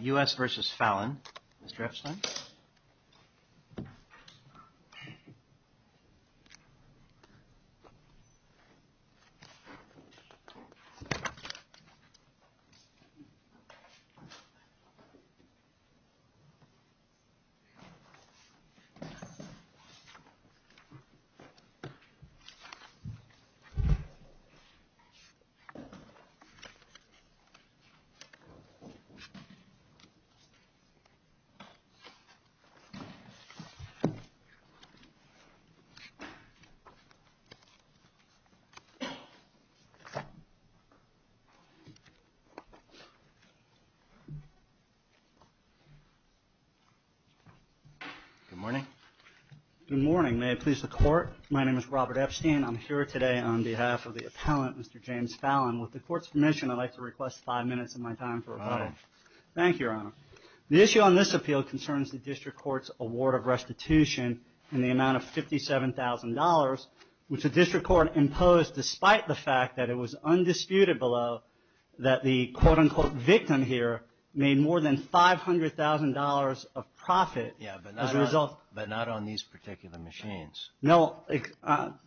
U.S. v. Fallon Good morning. May I please the court? My name is Robert Epstein. I'm here today on behalf of the appellant, Mr. James Fallon. With the court's permission, I'd like to request five minutes of my time for a question. Thank you, Your Honor. The issue on this appeal concerns the district court's award of restitution in the amount of $57,000, which the district court imposed despite the fact that it was undisputed below that the quote-unquote victim here made more than $500,000 of profit as a result. Yeah, but not on these particular machines. No.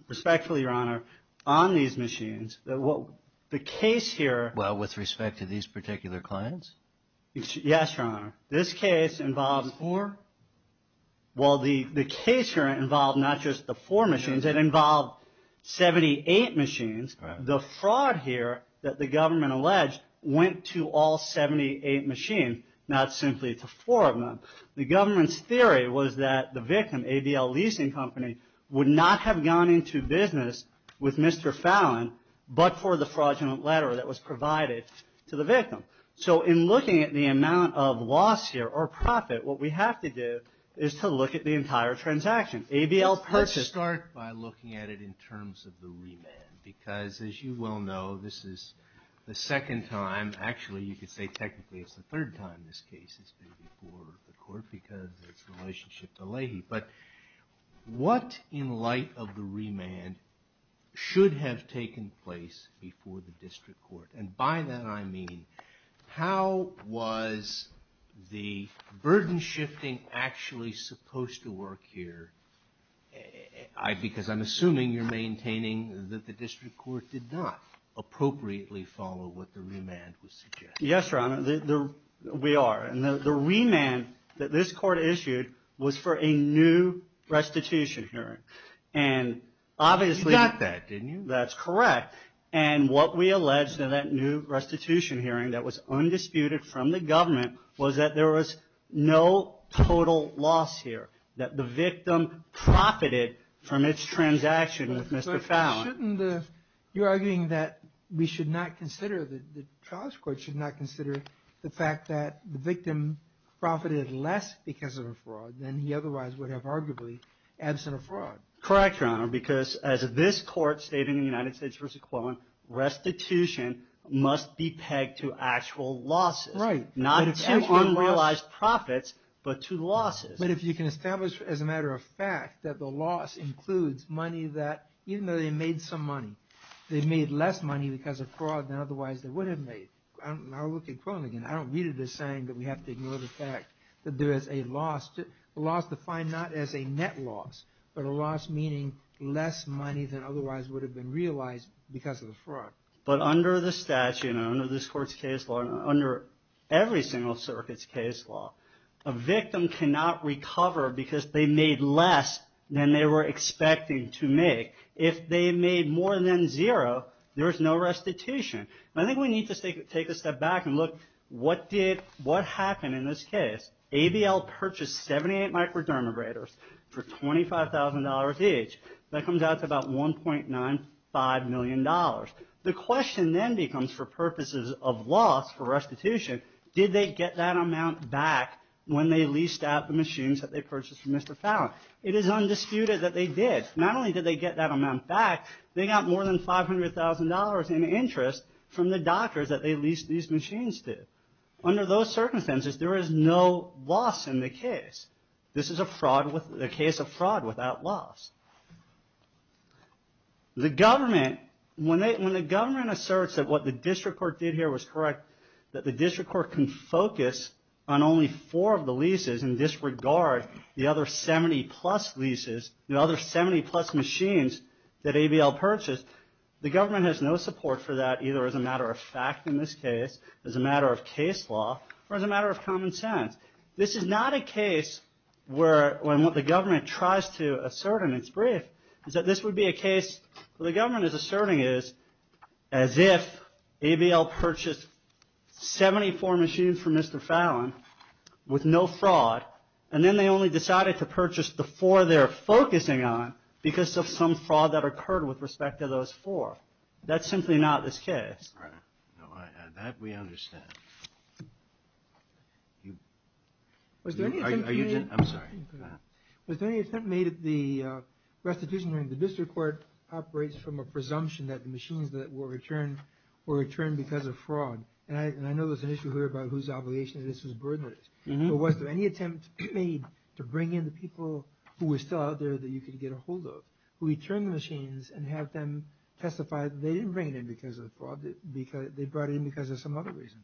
Respectfully, Your Honor, on these machines, the case here... Well, with respect to these particular clients? Yes, Your Honor. This case involves... Four? Well, the case here involved not just the four machines. It involved 78 machines. Right. The fraud here that the government alleged went to all 78 machines, not simply to four of them. The government's theory was that the victim, ADL Leasing Company, would not have gone into business with Mr. Fallon, but for the fraudulent letter that was provided to the victim. So in looking at the amount of loss here or profit, what we have to do is to look at the entire transaction. ADL purchased... Let's start by looking at it in terms of the remand, because as you well know, this is the second time. Actually, you could say technically it's the third time this case has been before the court, because it's in relationship to Leahy. But what, in light of the remand, should have taken place before the district court? And by that, I mean, how was the burden-shifting actually supposed to work here? Because I'm assuming you're maintaining that the district court did not appropriately follow what the remand was suggesting. Yes, Your Honor, we are. And the remand that this court issued was for a new restitution hearing. And obviously... You got that, didn't you? That's correct. And what we alleged in that new restitution hearing that was undisputed from the government was that there was no total loss here, that the victim profited from its transaction with Mr. Fallon. Shouldn't the... You're arguing that we should not consider, the trial's court should not consider the fact that the victim profited less because of a fraud than he otherwise would have arguably, absent a fraud. Correct, Your Honor, because as this court stated in the United States v. Quillen, restitution must be pegged to actual losses. Right. Not to unrealized profits, but to losses. But if you can establish as a matter of fact that the loss includes money that, even though they made some money, they made less money because of fraud than otherwise they would have made. I look at Quillen again, I don't read it as saying that we have to ignore the fact that there is a loss, a loss defined not as a net loss, but a loss meaning less money than otherwise would have been realized because of the fraud. But under the statute, under this court's case law, under every single circuit's case law, a victim cannot recover because they made less than they were expecting to make If they made more than zero, there is no restitution. And I think we need to take a step back and look, what did, what happened in this case? ABL purchased 78 microdermabrasors for $25,000 each. That comes out to about $1.95 million. The question then becomes, for purposes of loss, for restitution, did they get that amount back when they leased out the machines that they purchased from Mr. Fallon? It is undisputed that they did. Not only did they get that amount back, they got more than $500,000 in interest from the doctors that they leased these machines to. Under those circumstances, there is no loss in the case. This is a fraud, a case of fraud without loss. The government, when the government asserts that what the district court did here was correct, that the district court can focus on only four of the leases and disregard the other 70-plus leases, the other 70-plus machines that ABL purchased, the government has no support for that either as a matter of fact in this case, as a matter of case law, or as a matter of common sense. This is not a case where, when what the government tries to assert in its brief is that this would be a case, what the government is asserting is, as if ABL purchased 74 machines from Mr. Fallon, no fraud, and then they only decided to purchase the four they're focusing on because of some fraud that occurred with respect to those four. That's simply not this case. That we understand. Are you, I'm sorry. Was there any attempt made at the restitution when the district court operates from a And I know there's an issue here about whose obligation this was burdened with. But was there any attempt made to bring in the people who were still out there that you could get a hold of, who would turn the machines and have them testify that they didn't bring it in because of the fraud, they brought it in because of some other reason?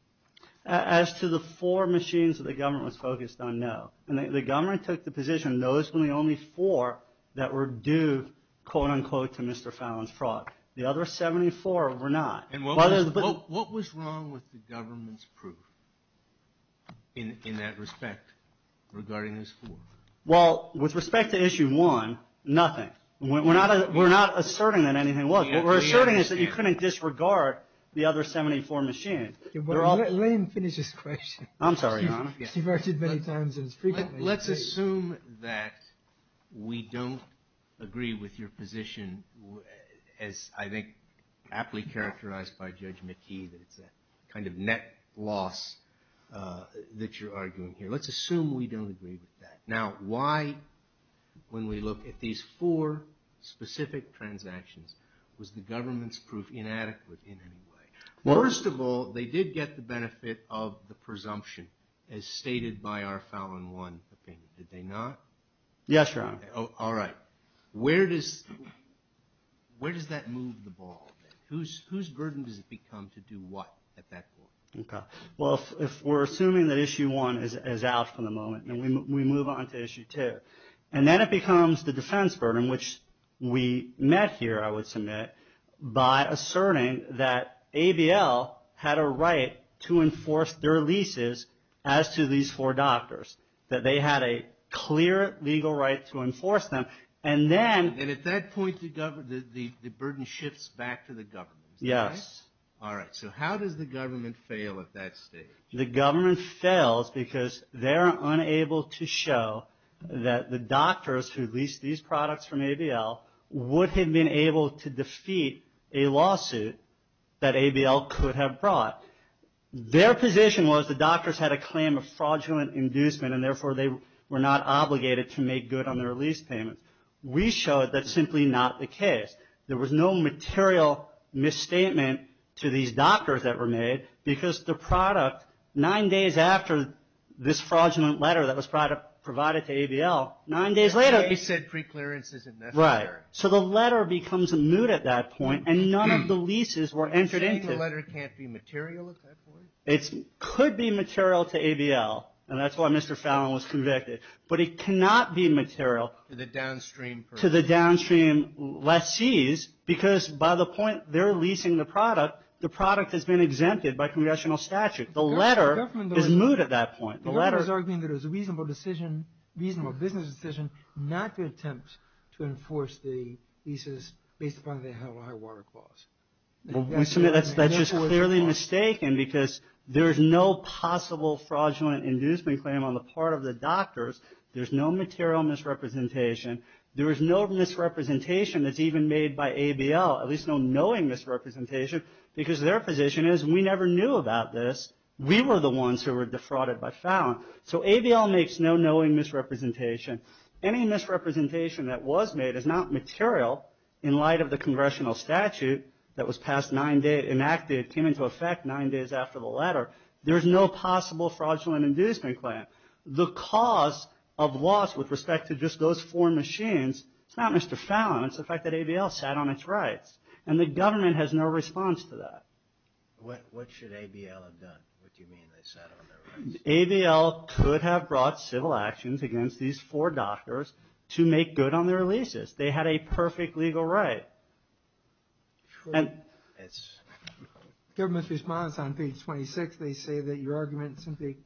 As to the four machines that the government was focused on, no. The government took the position, those were the only four that were due, quote unquote, to Mr. Fallon's fraud. The other 74 were not. And what was wrong with the government's proof in that respect regarding those four? Well, with respect to issue one, nothing. We're not asserting that anything was. What we're asserting is that you couldn't disregard the other 74 machines. Let him finish his question. I'm sorry, Your Honor. You've asked it many times and it's frequently. Let's assume that we don't agree with your position, as I think aptly characterized by Judge McKee, that it's a kind of net loss that you're arguing here. Let's assume we don't agree with that. Now, why, when we look at these four specific transactions, was the government's proof inadequate in any way? First of all, they did get the benefit of the presumption as stated by our Fallon 1 opinion. Did they not? Yes, Your Honor. All right. Where does that move the ball? Whose burden does it become to do what at that point? Okay. Well, if we're assuming that issue one is out for the moment and we move on to issue two, and then it becomes the defense burden, which we met here, I would submit, by asserting that ABL had a right to enforce their leases as to these four doctors. That they had a clear legal right to enforce them. And then... And at that point, the burden shifts back to the government. Yes. All right. So how does the government fail at that stage? The government fails because they're unable to show that the doctors who leased these feet, a lawsuit that ABL could have brought. Their position was the doctors had a claim of fraudulent inducement and therefore they were not obligated to make good on their lease payments. We showed that's simply not the case. There was no material misstatement to these doctors that were made because the product, nine days after this fraudulent letter that was provided to ABL, nine days later... You said preclearance is unnecessary. Right. So the letter becomes moot at that point and none of the leases were entered into... You're saying the letter can't be material at that point? It could be material to ABL, and that's why Mr. Fallon was convicted, but it cannot be material... To the downstream... To the downstream lessees because by the point they're leasing the product, the product has been exempted by congressional statute. The letter is moot at that point. The letter... The government is arguing that it was a reasonable decision, reasonable business decision, not to attempt to enforce the leases based upon the high water clause. That's just clearly mistaken because there is no possible fraudulent inducement claim on the part of the doctors. There's no material misrepresentation. There is no misrepresentation that's even made by ABL, at least no knowing misrepresentation, because their position is we never knew about this. We were the ones who were defrauded by Fallon. So ABL makes no knowing misrepresentation. Any misrepresentation that was made is not material in light of the congressional statute that was passed nine days... Enacted, came into effect nine days after the letter. There's no possible fraudulent inducement claim. The cause of loss with respect to just those four machines is not Mr. Fallon. It's the fact that ABL sat on its rights, and the government has no response to that. What should ABL have done? What do you mean they sat on their rights? ABL could have brought civil actions against these four doctors to make good on their leases. They had a perfect legal right. The government's response on page 26. They say that your argument simply...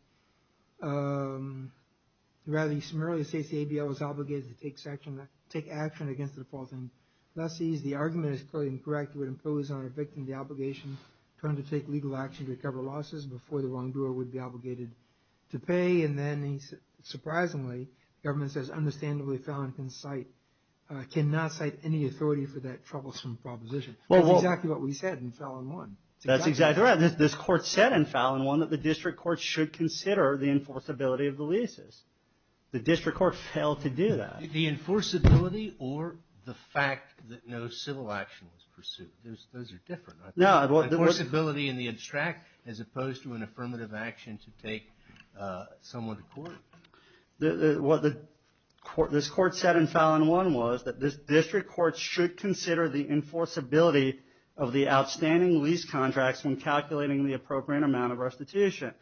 Rather, you summarily state that ABL was obligated to take action against the defaulting lessees. The argument is clearly incorrect. It would impose on a victim the obligation to undertake legal action to recover losses before the wrongdoer would be obligated to pay. And then, surprisingly, the government says, understandably, Fallon cannot cite any authority for that troublesome proposition. That's exactly what we said in Fallon 1. That's exactly right. This court said in Fallon 1 that the district court should consider the enforceability of the leases. The district court failed to do that. The enforceability or the fact that no civil action was pursued. Those are different. The enforceability and the abstract as opposed to an affirmative action to take someone to court. What this court said in Fallon 1 was that this district court should consider the enforceability of the outstanding lease contracts when calculating the appropriate amount of restitution.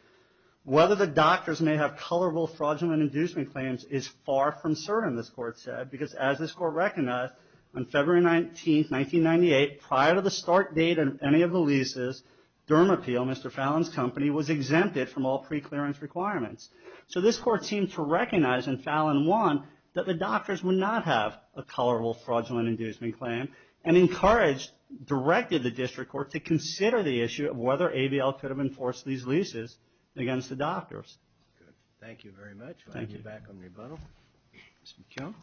Whether the doctors may have colorable fraudulent inducement claims is far from certain, this court said, because as this court recognized, on February 19th, 1998, prior to the start date of any of the leases, Dermappeal, Mr. Fallon's company, was exempted from all preclearance requirements. So this court seemed to recognize in Fallon 1 that the doctors would not have a colorable fraudulent inducement claim and encouraged, directed the district court to consider the issue of whether ABL could have enforced these leases against the doctors. Thank you very much. Thank you. Back on rebuttal. Mr. McKeown.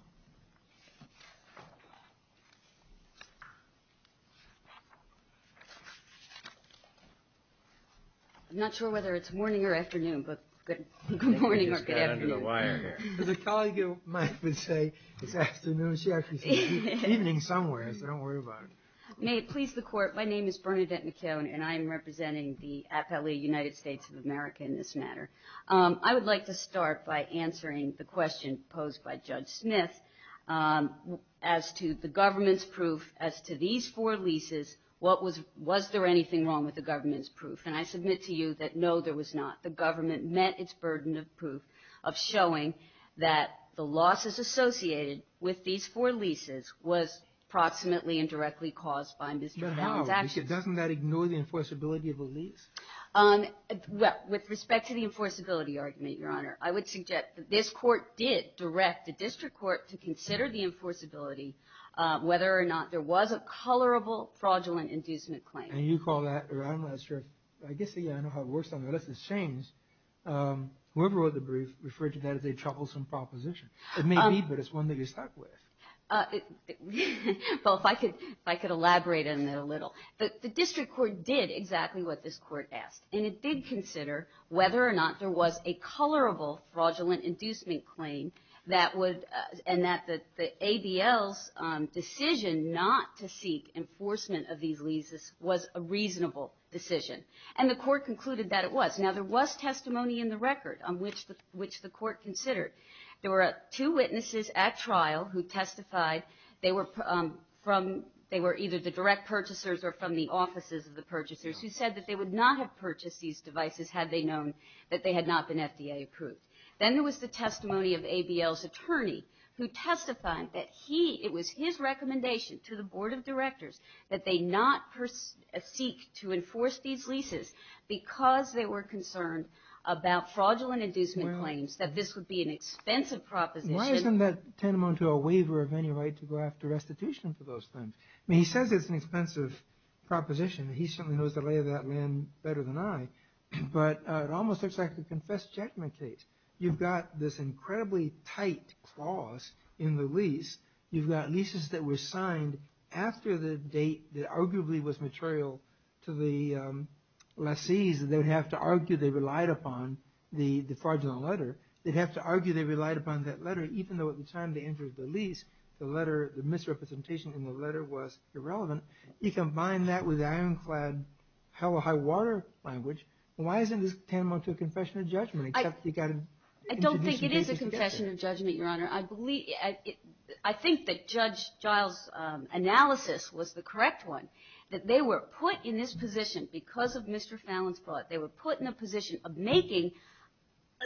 I'm not sure whether it's morning or afternoon, but good morning or good afternoon. As a colleague of mine would say, it's afternoon. She actually said evening somewhere, so don't worry about it. May it please the court, my name is Bernadette McKeown, and I am representing the AFL-E United States of America in this matter. I would like to start by answering the question posed by Judge Smith as to the government's proof as to these four leases. Was there anything wrong with the government's proof? And I submit to you that no, there was not. The government met its burden of proof of showing that the losses associated with these four leases was approximately and directly caused by Mr. Fallon's actions. Doesn't that ignore the enforceability of a lease? With respect to the enforceability argument, Your Honor, I would suggest that this court did direct the district court to consider the enforceability whether or not there was a colorable fraudulent inducement claim. And you called that around last year. I guess I know how it works unless it's changed. Whoever wrote the brief referred to that as a troublesome proposition. It may be, but it's one that you're stuck with. Well, if I could elaborate on that a little. The district court did exactly what this court asked, and it did consider whether or not there was a colorable fraudulent inducement claim and that the ADL's decision not to seek enforcement of these leases was a reasonable decision. And the court concluded that it was. Now, there was testimony in the record on which the court considered. There were two witnesses at trial who testified. They were either the direct purchasers or from the offices of the purchasers who said that they would not have purchased these devices had they known that they had not been FDA approved. Then there was the testimony of ADL's attorney who testified that it was his recommendation to the board of directors that they not seek to enforce these leases because they were concerned about fraudulent inducement claims, that this would be an expensive proposition. Why isn't that tantamount to a waiver of any right to go after restitution for those things? I mean, he says it's an expensive proposition. He certainly knows the lay of that land better than I. But it almost looks like a confessed judgment case. You've got this incredibly tight clause in the lease. You've got leases that were signed after the date that arguably was material to the lessees that they would have to argue they relied upon the fraudulent letter. They'd have to argue they relied upon that letter even though at the time they entered the lease, the misrepresentation in the letter was irrelevant. You combine that with ironclad hell or high water language. Why isn't this tantamount to a confession of judgment? I don't think it is a confession of judgment, Your Honor. I think that Judge Giles' analysis was the correct one, that they were put in this position because of Mr. Fallon's fraud. They were put in a position of making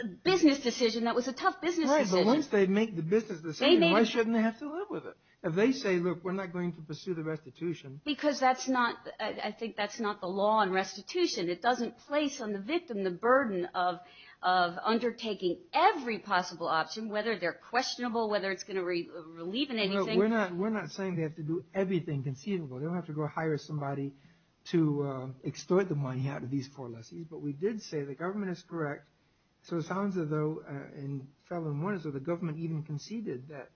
a business decision that was a tough business decision. Once they make the business decision, why shouldn't they have to live with it? If they say, look, we're not going to pursue the restitution. Because I think that's not the law on restitution. It doesn't place on the victim the burden of undertaking every possible option, whether they're questionable, whether it's going to relieve in anything. We're not saying they have to do everything conceivable. They don't have to go hire somebody to extort the money out of these four lessees. But we did say the government is correct. So it sounds as though in Fallon 1, the government even conceded that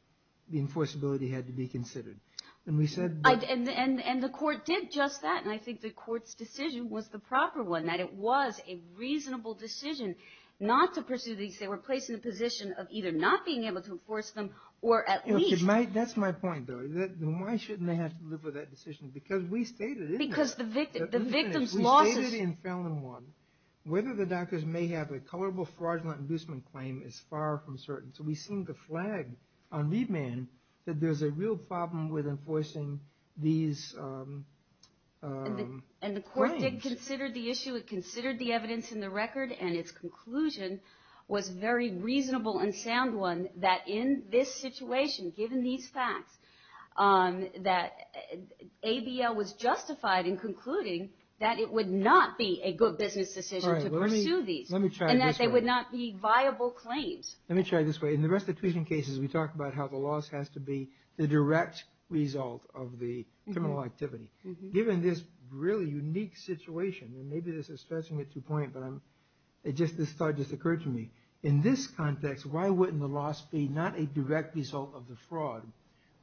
the enforceability had to be considered. And the court did just that, and I think the court's decision was the proper one, that it was a reasonable decision not to pursue these. They were placed in a position of either not being able to enforce them or at least... That's my point, though. Why shouldn't they have to live with that decision? Because we stated... Because the victim's losses... Whether the doctors may have a colorable fraudulent inducement claim is far from certain. So we seem to flag on lead man that there's a real problem with enforcing these claims. And the court did consider the issue. It considered the evidence in the record, and its conclusion was a very reasonable and sound one, that in this situation, given these facts, that ABL was justified in concluding that it would not be a good business decision to pursue these, and that they would not be viable claims. Let me try it this way. In the restitution cases, we talk about how the loss has to be the direct result of the criminal activity. Given this really unique situation, and maybe this is stretching it to a point, but this thought just occurred to me. In this context, why wouldn't the loss be not a direct result of the fraud,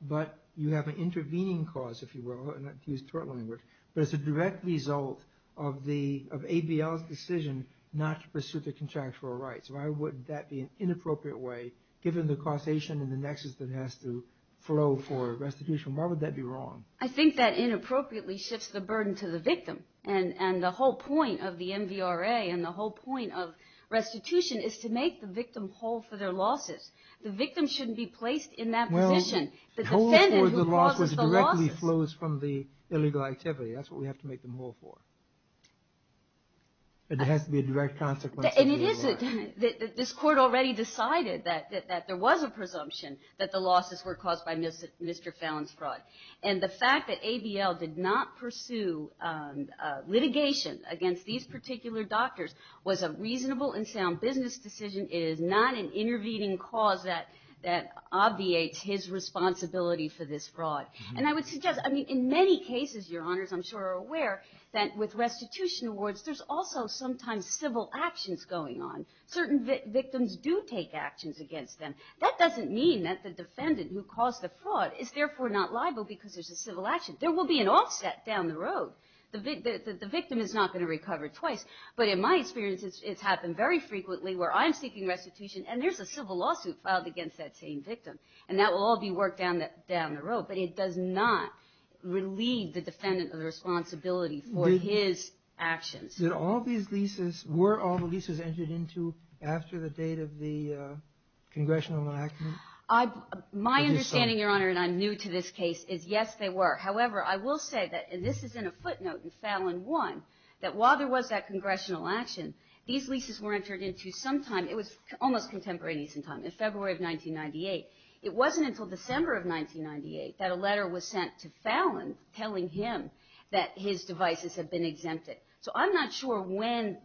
but you have an intervening cause, if you will, and I use tort language, but it's a direct result of ABL's decision not to pursue the contractual rights. Why would that be an inappropriate way, given the causation and the nexus that has to flow for restitution? Why would that be wrong? I think that inappropriately shifts the burden to the victim. And the whole point of the MVRA and the whole point of restitution is to make the victim whole for their losses. The victim shouldn't be placed in that position. The defendant who causes the losses. It flows from the illegal activity. That's what we have to make them whole for. It has to be a direct consequence. This court already decided that there was a presumption that the losses were caused by Mr. Fallon's fraud. And the fact that ABL did not pursue litigation against these particular doctors was a reasonable and sound business decision. It is not an intervening cause that obviates his responsibility for this fraud. And I would suggest, I mean, in many cases, Your Honors, I'm sure are aware that with restitution awards, there's also sometimes civil actions going on. Certain victims do take actions against them. That doesn't mean that the defendant who caused the fraud is therefore not liable because there's a civil action. There will be an offset down the road. The victim is not going to recover twice. But in my experience, it's happened very frequently where I'm seeking restitution and there's a civil lawsuit filed against that same victim. And that will all be worked down the road. But it does not relieve the defendant of the responsibility for his actions. Were all these leases entered into after the date of the congressional election? My understanding, Your Honor, and I'm new to this case, is yes, they were. However, I will say that, and this is in a footnote in Fallon 1, that while there was that congressional action, these leases were entered into sometime, it was almost contemporaneous in time, in February of 1998. It wasn't until December of 1998 that a letter was sent to Fallon telling him that his devices had been exempted. So I'm not sure when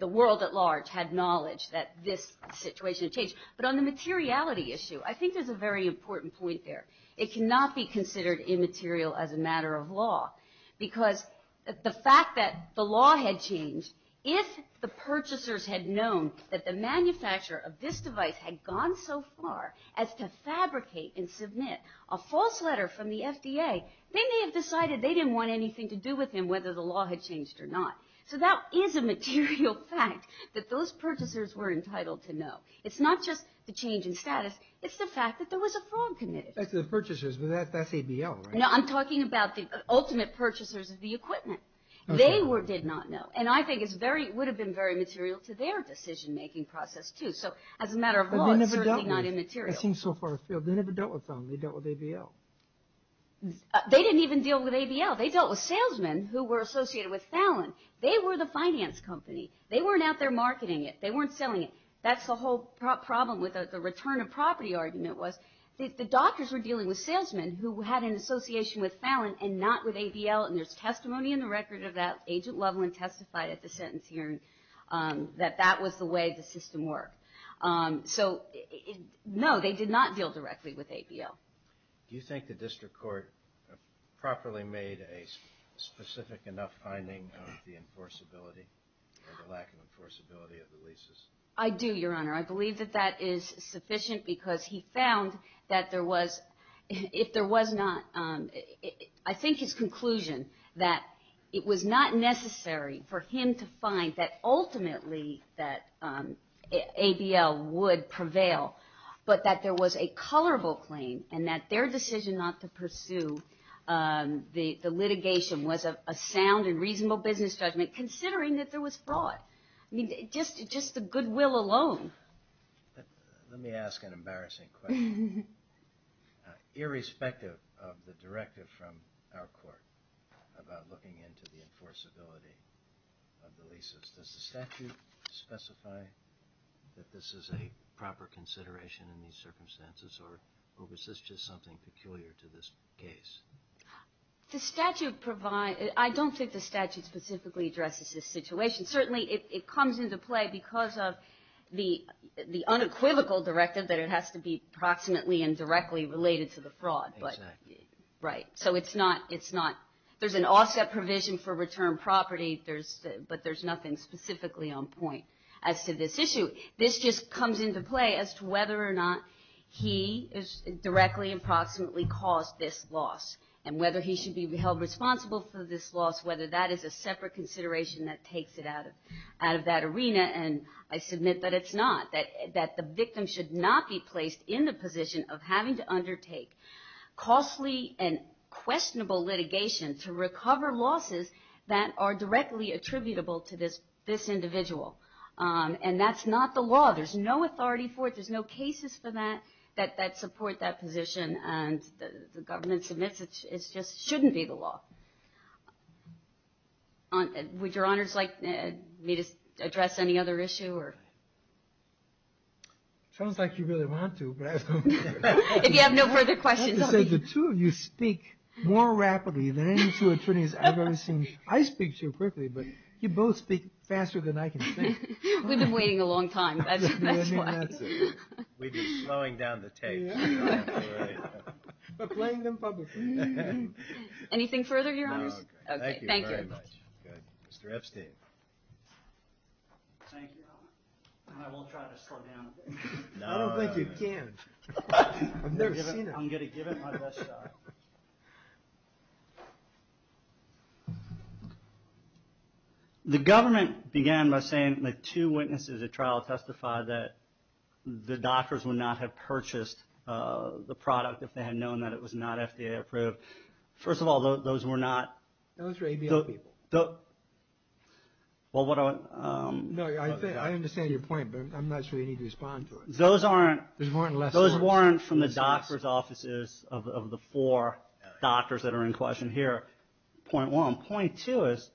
the world at large had knowledge that this situation had changed. But on the materiality issue, I think there's a very important point there. It cannot be considered immaterial as a matter of law because the fact that the law had changed, if the purchasers had known that the manufacturer of this device had gone so far as to fabricate and submit a false letter from the FDA, they may have decided they didn't want anything to do with him, whether the law had changed or not. So that is a material fact that those purchasers were entitled to know. It's not just the change in status. It's the fact that there was a fraud committed. That's the purchasers, but that's ABL, right? No, I'm talking about the ultimate purchasers of the equipment. They did not know. And I think it would have been very material to their decision-making process, too. So as a matter of law, it's certainly not immaterial. It seems so far afield. They never dealt with Fallon. They dealt with ABL. They didn't even deal with ABL. They dealt with salesmen who were associated with Fallon. They were the finance company. They weren't out there marketing it. They weren't selling it. That's the whole problem with the return of property argument, was the doctors were dealing with salesmen who had an association with Fallon and not with ABL. And there's testimony in the record of that. Agent Loveland testified at the sentence hearing that that was the way the system worked. So, no, they did not deal directly with ABL. Do you think the district court properly made a specific enough finding of the enforceability or the lack of enforceability of the leases? I do, Your Honor. I believe that that is sufficient because he found that there was, if there was not, I think his conclusion that it was not necessary for him to find that ultimately that ABL would prevail, but that there was a colorable claim and that their decision not to pursue the litigation was a sound and reasonable business judgment considering that there was fraud. I mean, just the goodwill alone. Let me ask an embarrassing question. Irrespective of the directive from our court about looking into the enforceability of the leases, does the statute specify that this is a proper consideration in these circumstances or was this just something peculiar to this case? The statute provides, I don't think the statute specifically addresses this situation. Certainly it comes into play because of the unequivocal directive that it has to be proximately and directly related to the fraud. Exactly. Right. So it's not, there's an offset provision for return property, but there's nothing specifically on point as to this issue. This just comes into play as to whether or not he directly and proximately caused this loss and whether he should be held responsible for this loss, whether that is a separate consideration that takes it out of that arena. And I submit that it's not. That the victim should not be placed in the position of having to undertake costly and questionable litigation to recover losses that are directly attributable to this individual. And that's not the law. There's no authority for it. There's no cases for that that support that position. And the government submits it. It just shouldn't be the law. Would your honors like me to address any other issue? Sounds like you really want to. If you have no further questions. The two of you speak more rapidly than any two attorneys I've ever seen. I speak so quickly, but you both speak faster than I can think. We've been waiting a long time. That's why. We've been slowing down the tape. We're playing them publicly. Anything further, your honors? Thank you very much. Mr. Epstein. Thank you. I will try to slow down a bit. I don't think you can. I've never seen it. I'm going to give it my best shot. The government began by saying the two witnesses at trial testified that the doctors would not have purchased the product if they had known that it was not FDA approved. First of all, those were not. Those were ABL people. I understand your point, but I'm not sure you need to respond to it. Those weren't from the doctor's offices of the four. Doctors that are in question here. Point one. Point two is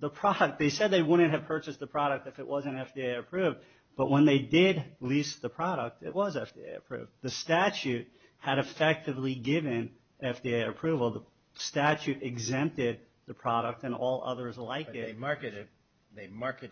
the product. They said they wouldn't have purchased the product if it wasn't FDA approved, but when they did lease the product, it was FDA approved. The statute had effectively given FDA approval. The statute exempted the product and all others like it. They marketed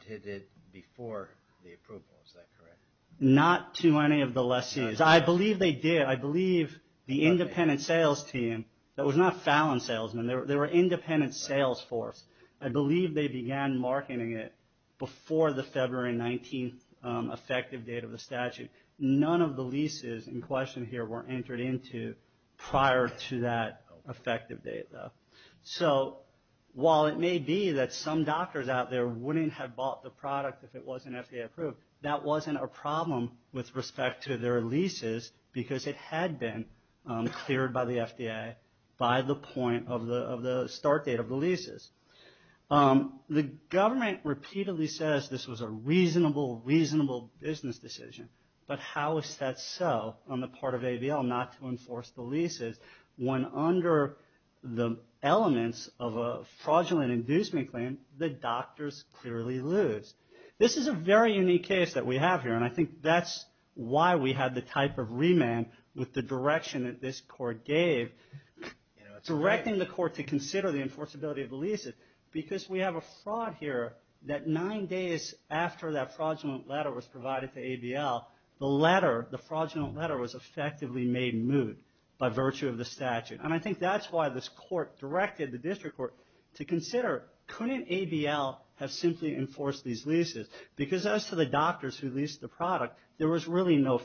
it before the approval. Is that correct? Not to any of the lessees. I believe they did. I believe the independent sales team, that was not Fallon salesmen. They were independent sales force. I believe they began marketing it before the February 19th effective date of the statute. None of the leases in question here were entered into prior to that effective date though. While it may be that some doctors out there wouldn't have bought the product if it wasn't FDA approved, that wasn't a problem with respect to their leases because it had been cleared by the FDA by the point of the start date of the leases. The government repeatedly says this was a reasonable, reasonable business decision, but how is that so on the part of ABL not to enforce the leases when under the elements of a fraudulent inducement claim, the doctors clearly lose? This is a very unique case that we have here, and I think that's why we have the type of remand with the direction that this court gave. Directing the court to consider the enforceability of the leases because we have a fraud here that nine days after that fraudulent letter was provided to ABL, the fraudulent letter was effectively made moot by virtue of the statute. I think that's why this court directed the district court to consider couldn't ABL have simply enforced these leases because as to the doctors who leased the fraud, the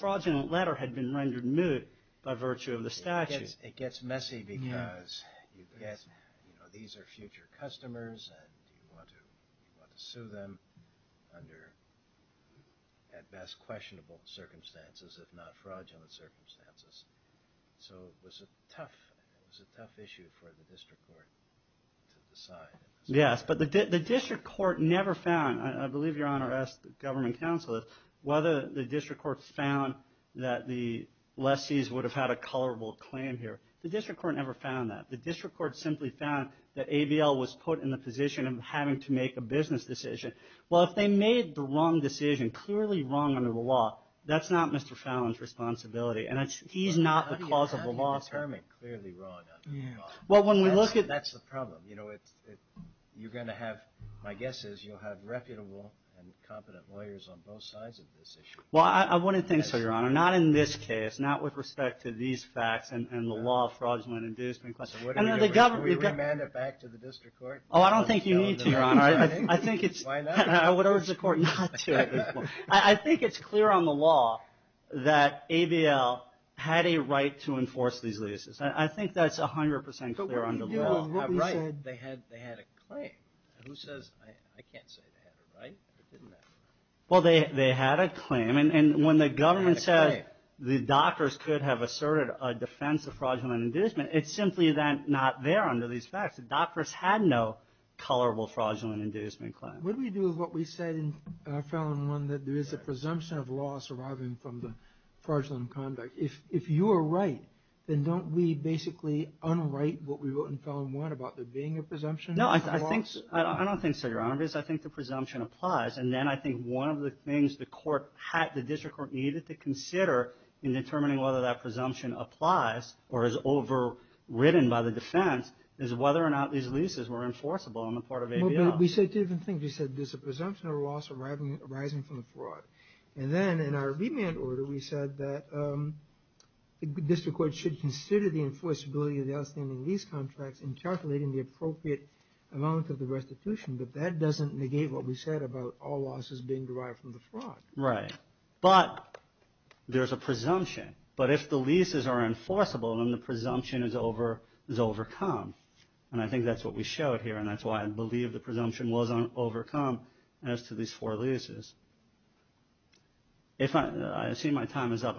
fraudulent letter had been rendered moot by virtue of the statute. It gets messy because these are future customers and you want to sue them under at best questionable circumstances, if not fraudulent circumstances. So it was a tough issue for the district court to decide. Yes, but the district court never found, I believe Your Honor asked the district court found that the lessees would have had a colorable claim here. The district court never found that. The district court simply found that ABL was put in the position of having to make a business decision. Well, if they made the wrong decision, clearly wrong under the law, that's not Mr. Fallon's responsibility and he's not the cause of the loss. How do you determine clearly wrong under the law? That's the problem. You're going to have, my guess is you'll have reputable and competent lawyers on both sides of this issue. Well, I wouldn't think so, Your Honor. Not in this case, not with respect to these facts and the law fraudulently induced. Should we remand it back to the district court? Oh, I don't think you need to, Your Honor. Why not? I would urge the court not to. I think it's clear on the law that ABL had a right to enforce these leases. I think that's 100% clear under the law. But what if they said they had a claim? I can't say they had a right. Well, they had a claim. And when the government says the doctors could have asserted a defense of fraudulent inducement, it's simply then not there under these facts. The doctors had no colorable fraudulent inducement claim. What do we do with what we said in Fallon 1 that there is a presumption of loss arising from the fraudulent conduct? If you are right, then don't we basically unwrite what we wrote in Fallon 1 about there being a presumption of loss? No, I don't think so, Your Honor. I think the presumption applies. And then I think one of the things the district court needed to consider in determining whether that presumption applies or is overridden by the defense is whether or not these leases were enforceable on the part of ABL. We said two different things. We said there's a presumption of loss arising from the fraud. And then in our remand order, we said that the district court should consider the enforceability of the outstanding lease contracts in calculating the appropriate amount of the restitution. But that doesn't negate what we said about all losses being derived from the fraud. Right. But there's a presumption. But if the leases are enforceable, then the presumption is overcome. And I think that's what we showed here, and that's why I believe the presumption was overcome as to these four leases. I assume my time is up.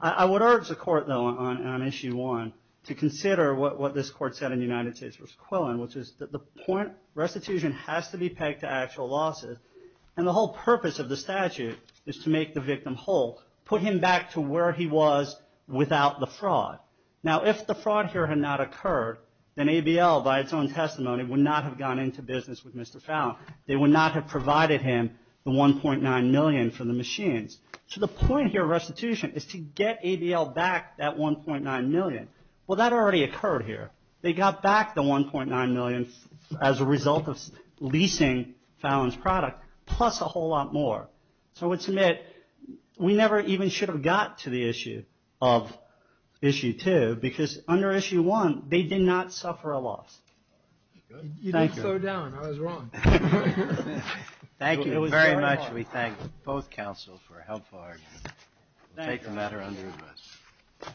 I would urge the court, though, on Issue 1 to consider what this court said in this point. Restitution has to be pegged to actual losses. And the whole purpose of the statute is to make the victim whole, put him back to where he was without the fraud. Now, if the fraud here had not occurred, then ABL, by its own testimony, would not have gone into business with Mr. Fallon. They would not have provided him the $1.9 million for the machines. So the point here of restitution is to get ABL back that $1.9 million. Well, that already occurred here. They got back the $1.9 million as a result of leasing Fallon's product, plus a whole lot more. So I would submit we never even should have got to the issue of Issue 2, because under Issue 1, they did not suffer a loss. Thank you. You didn't slow down. I was wrong. Thank you very much. We thank both counsels for a helpful argument. We'll take the matter under review.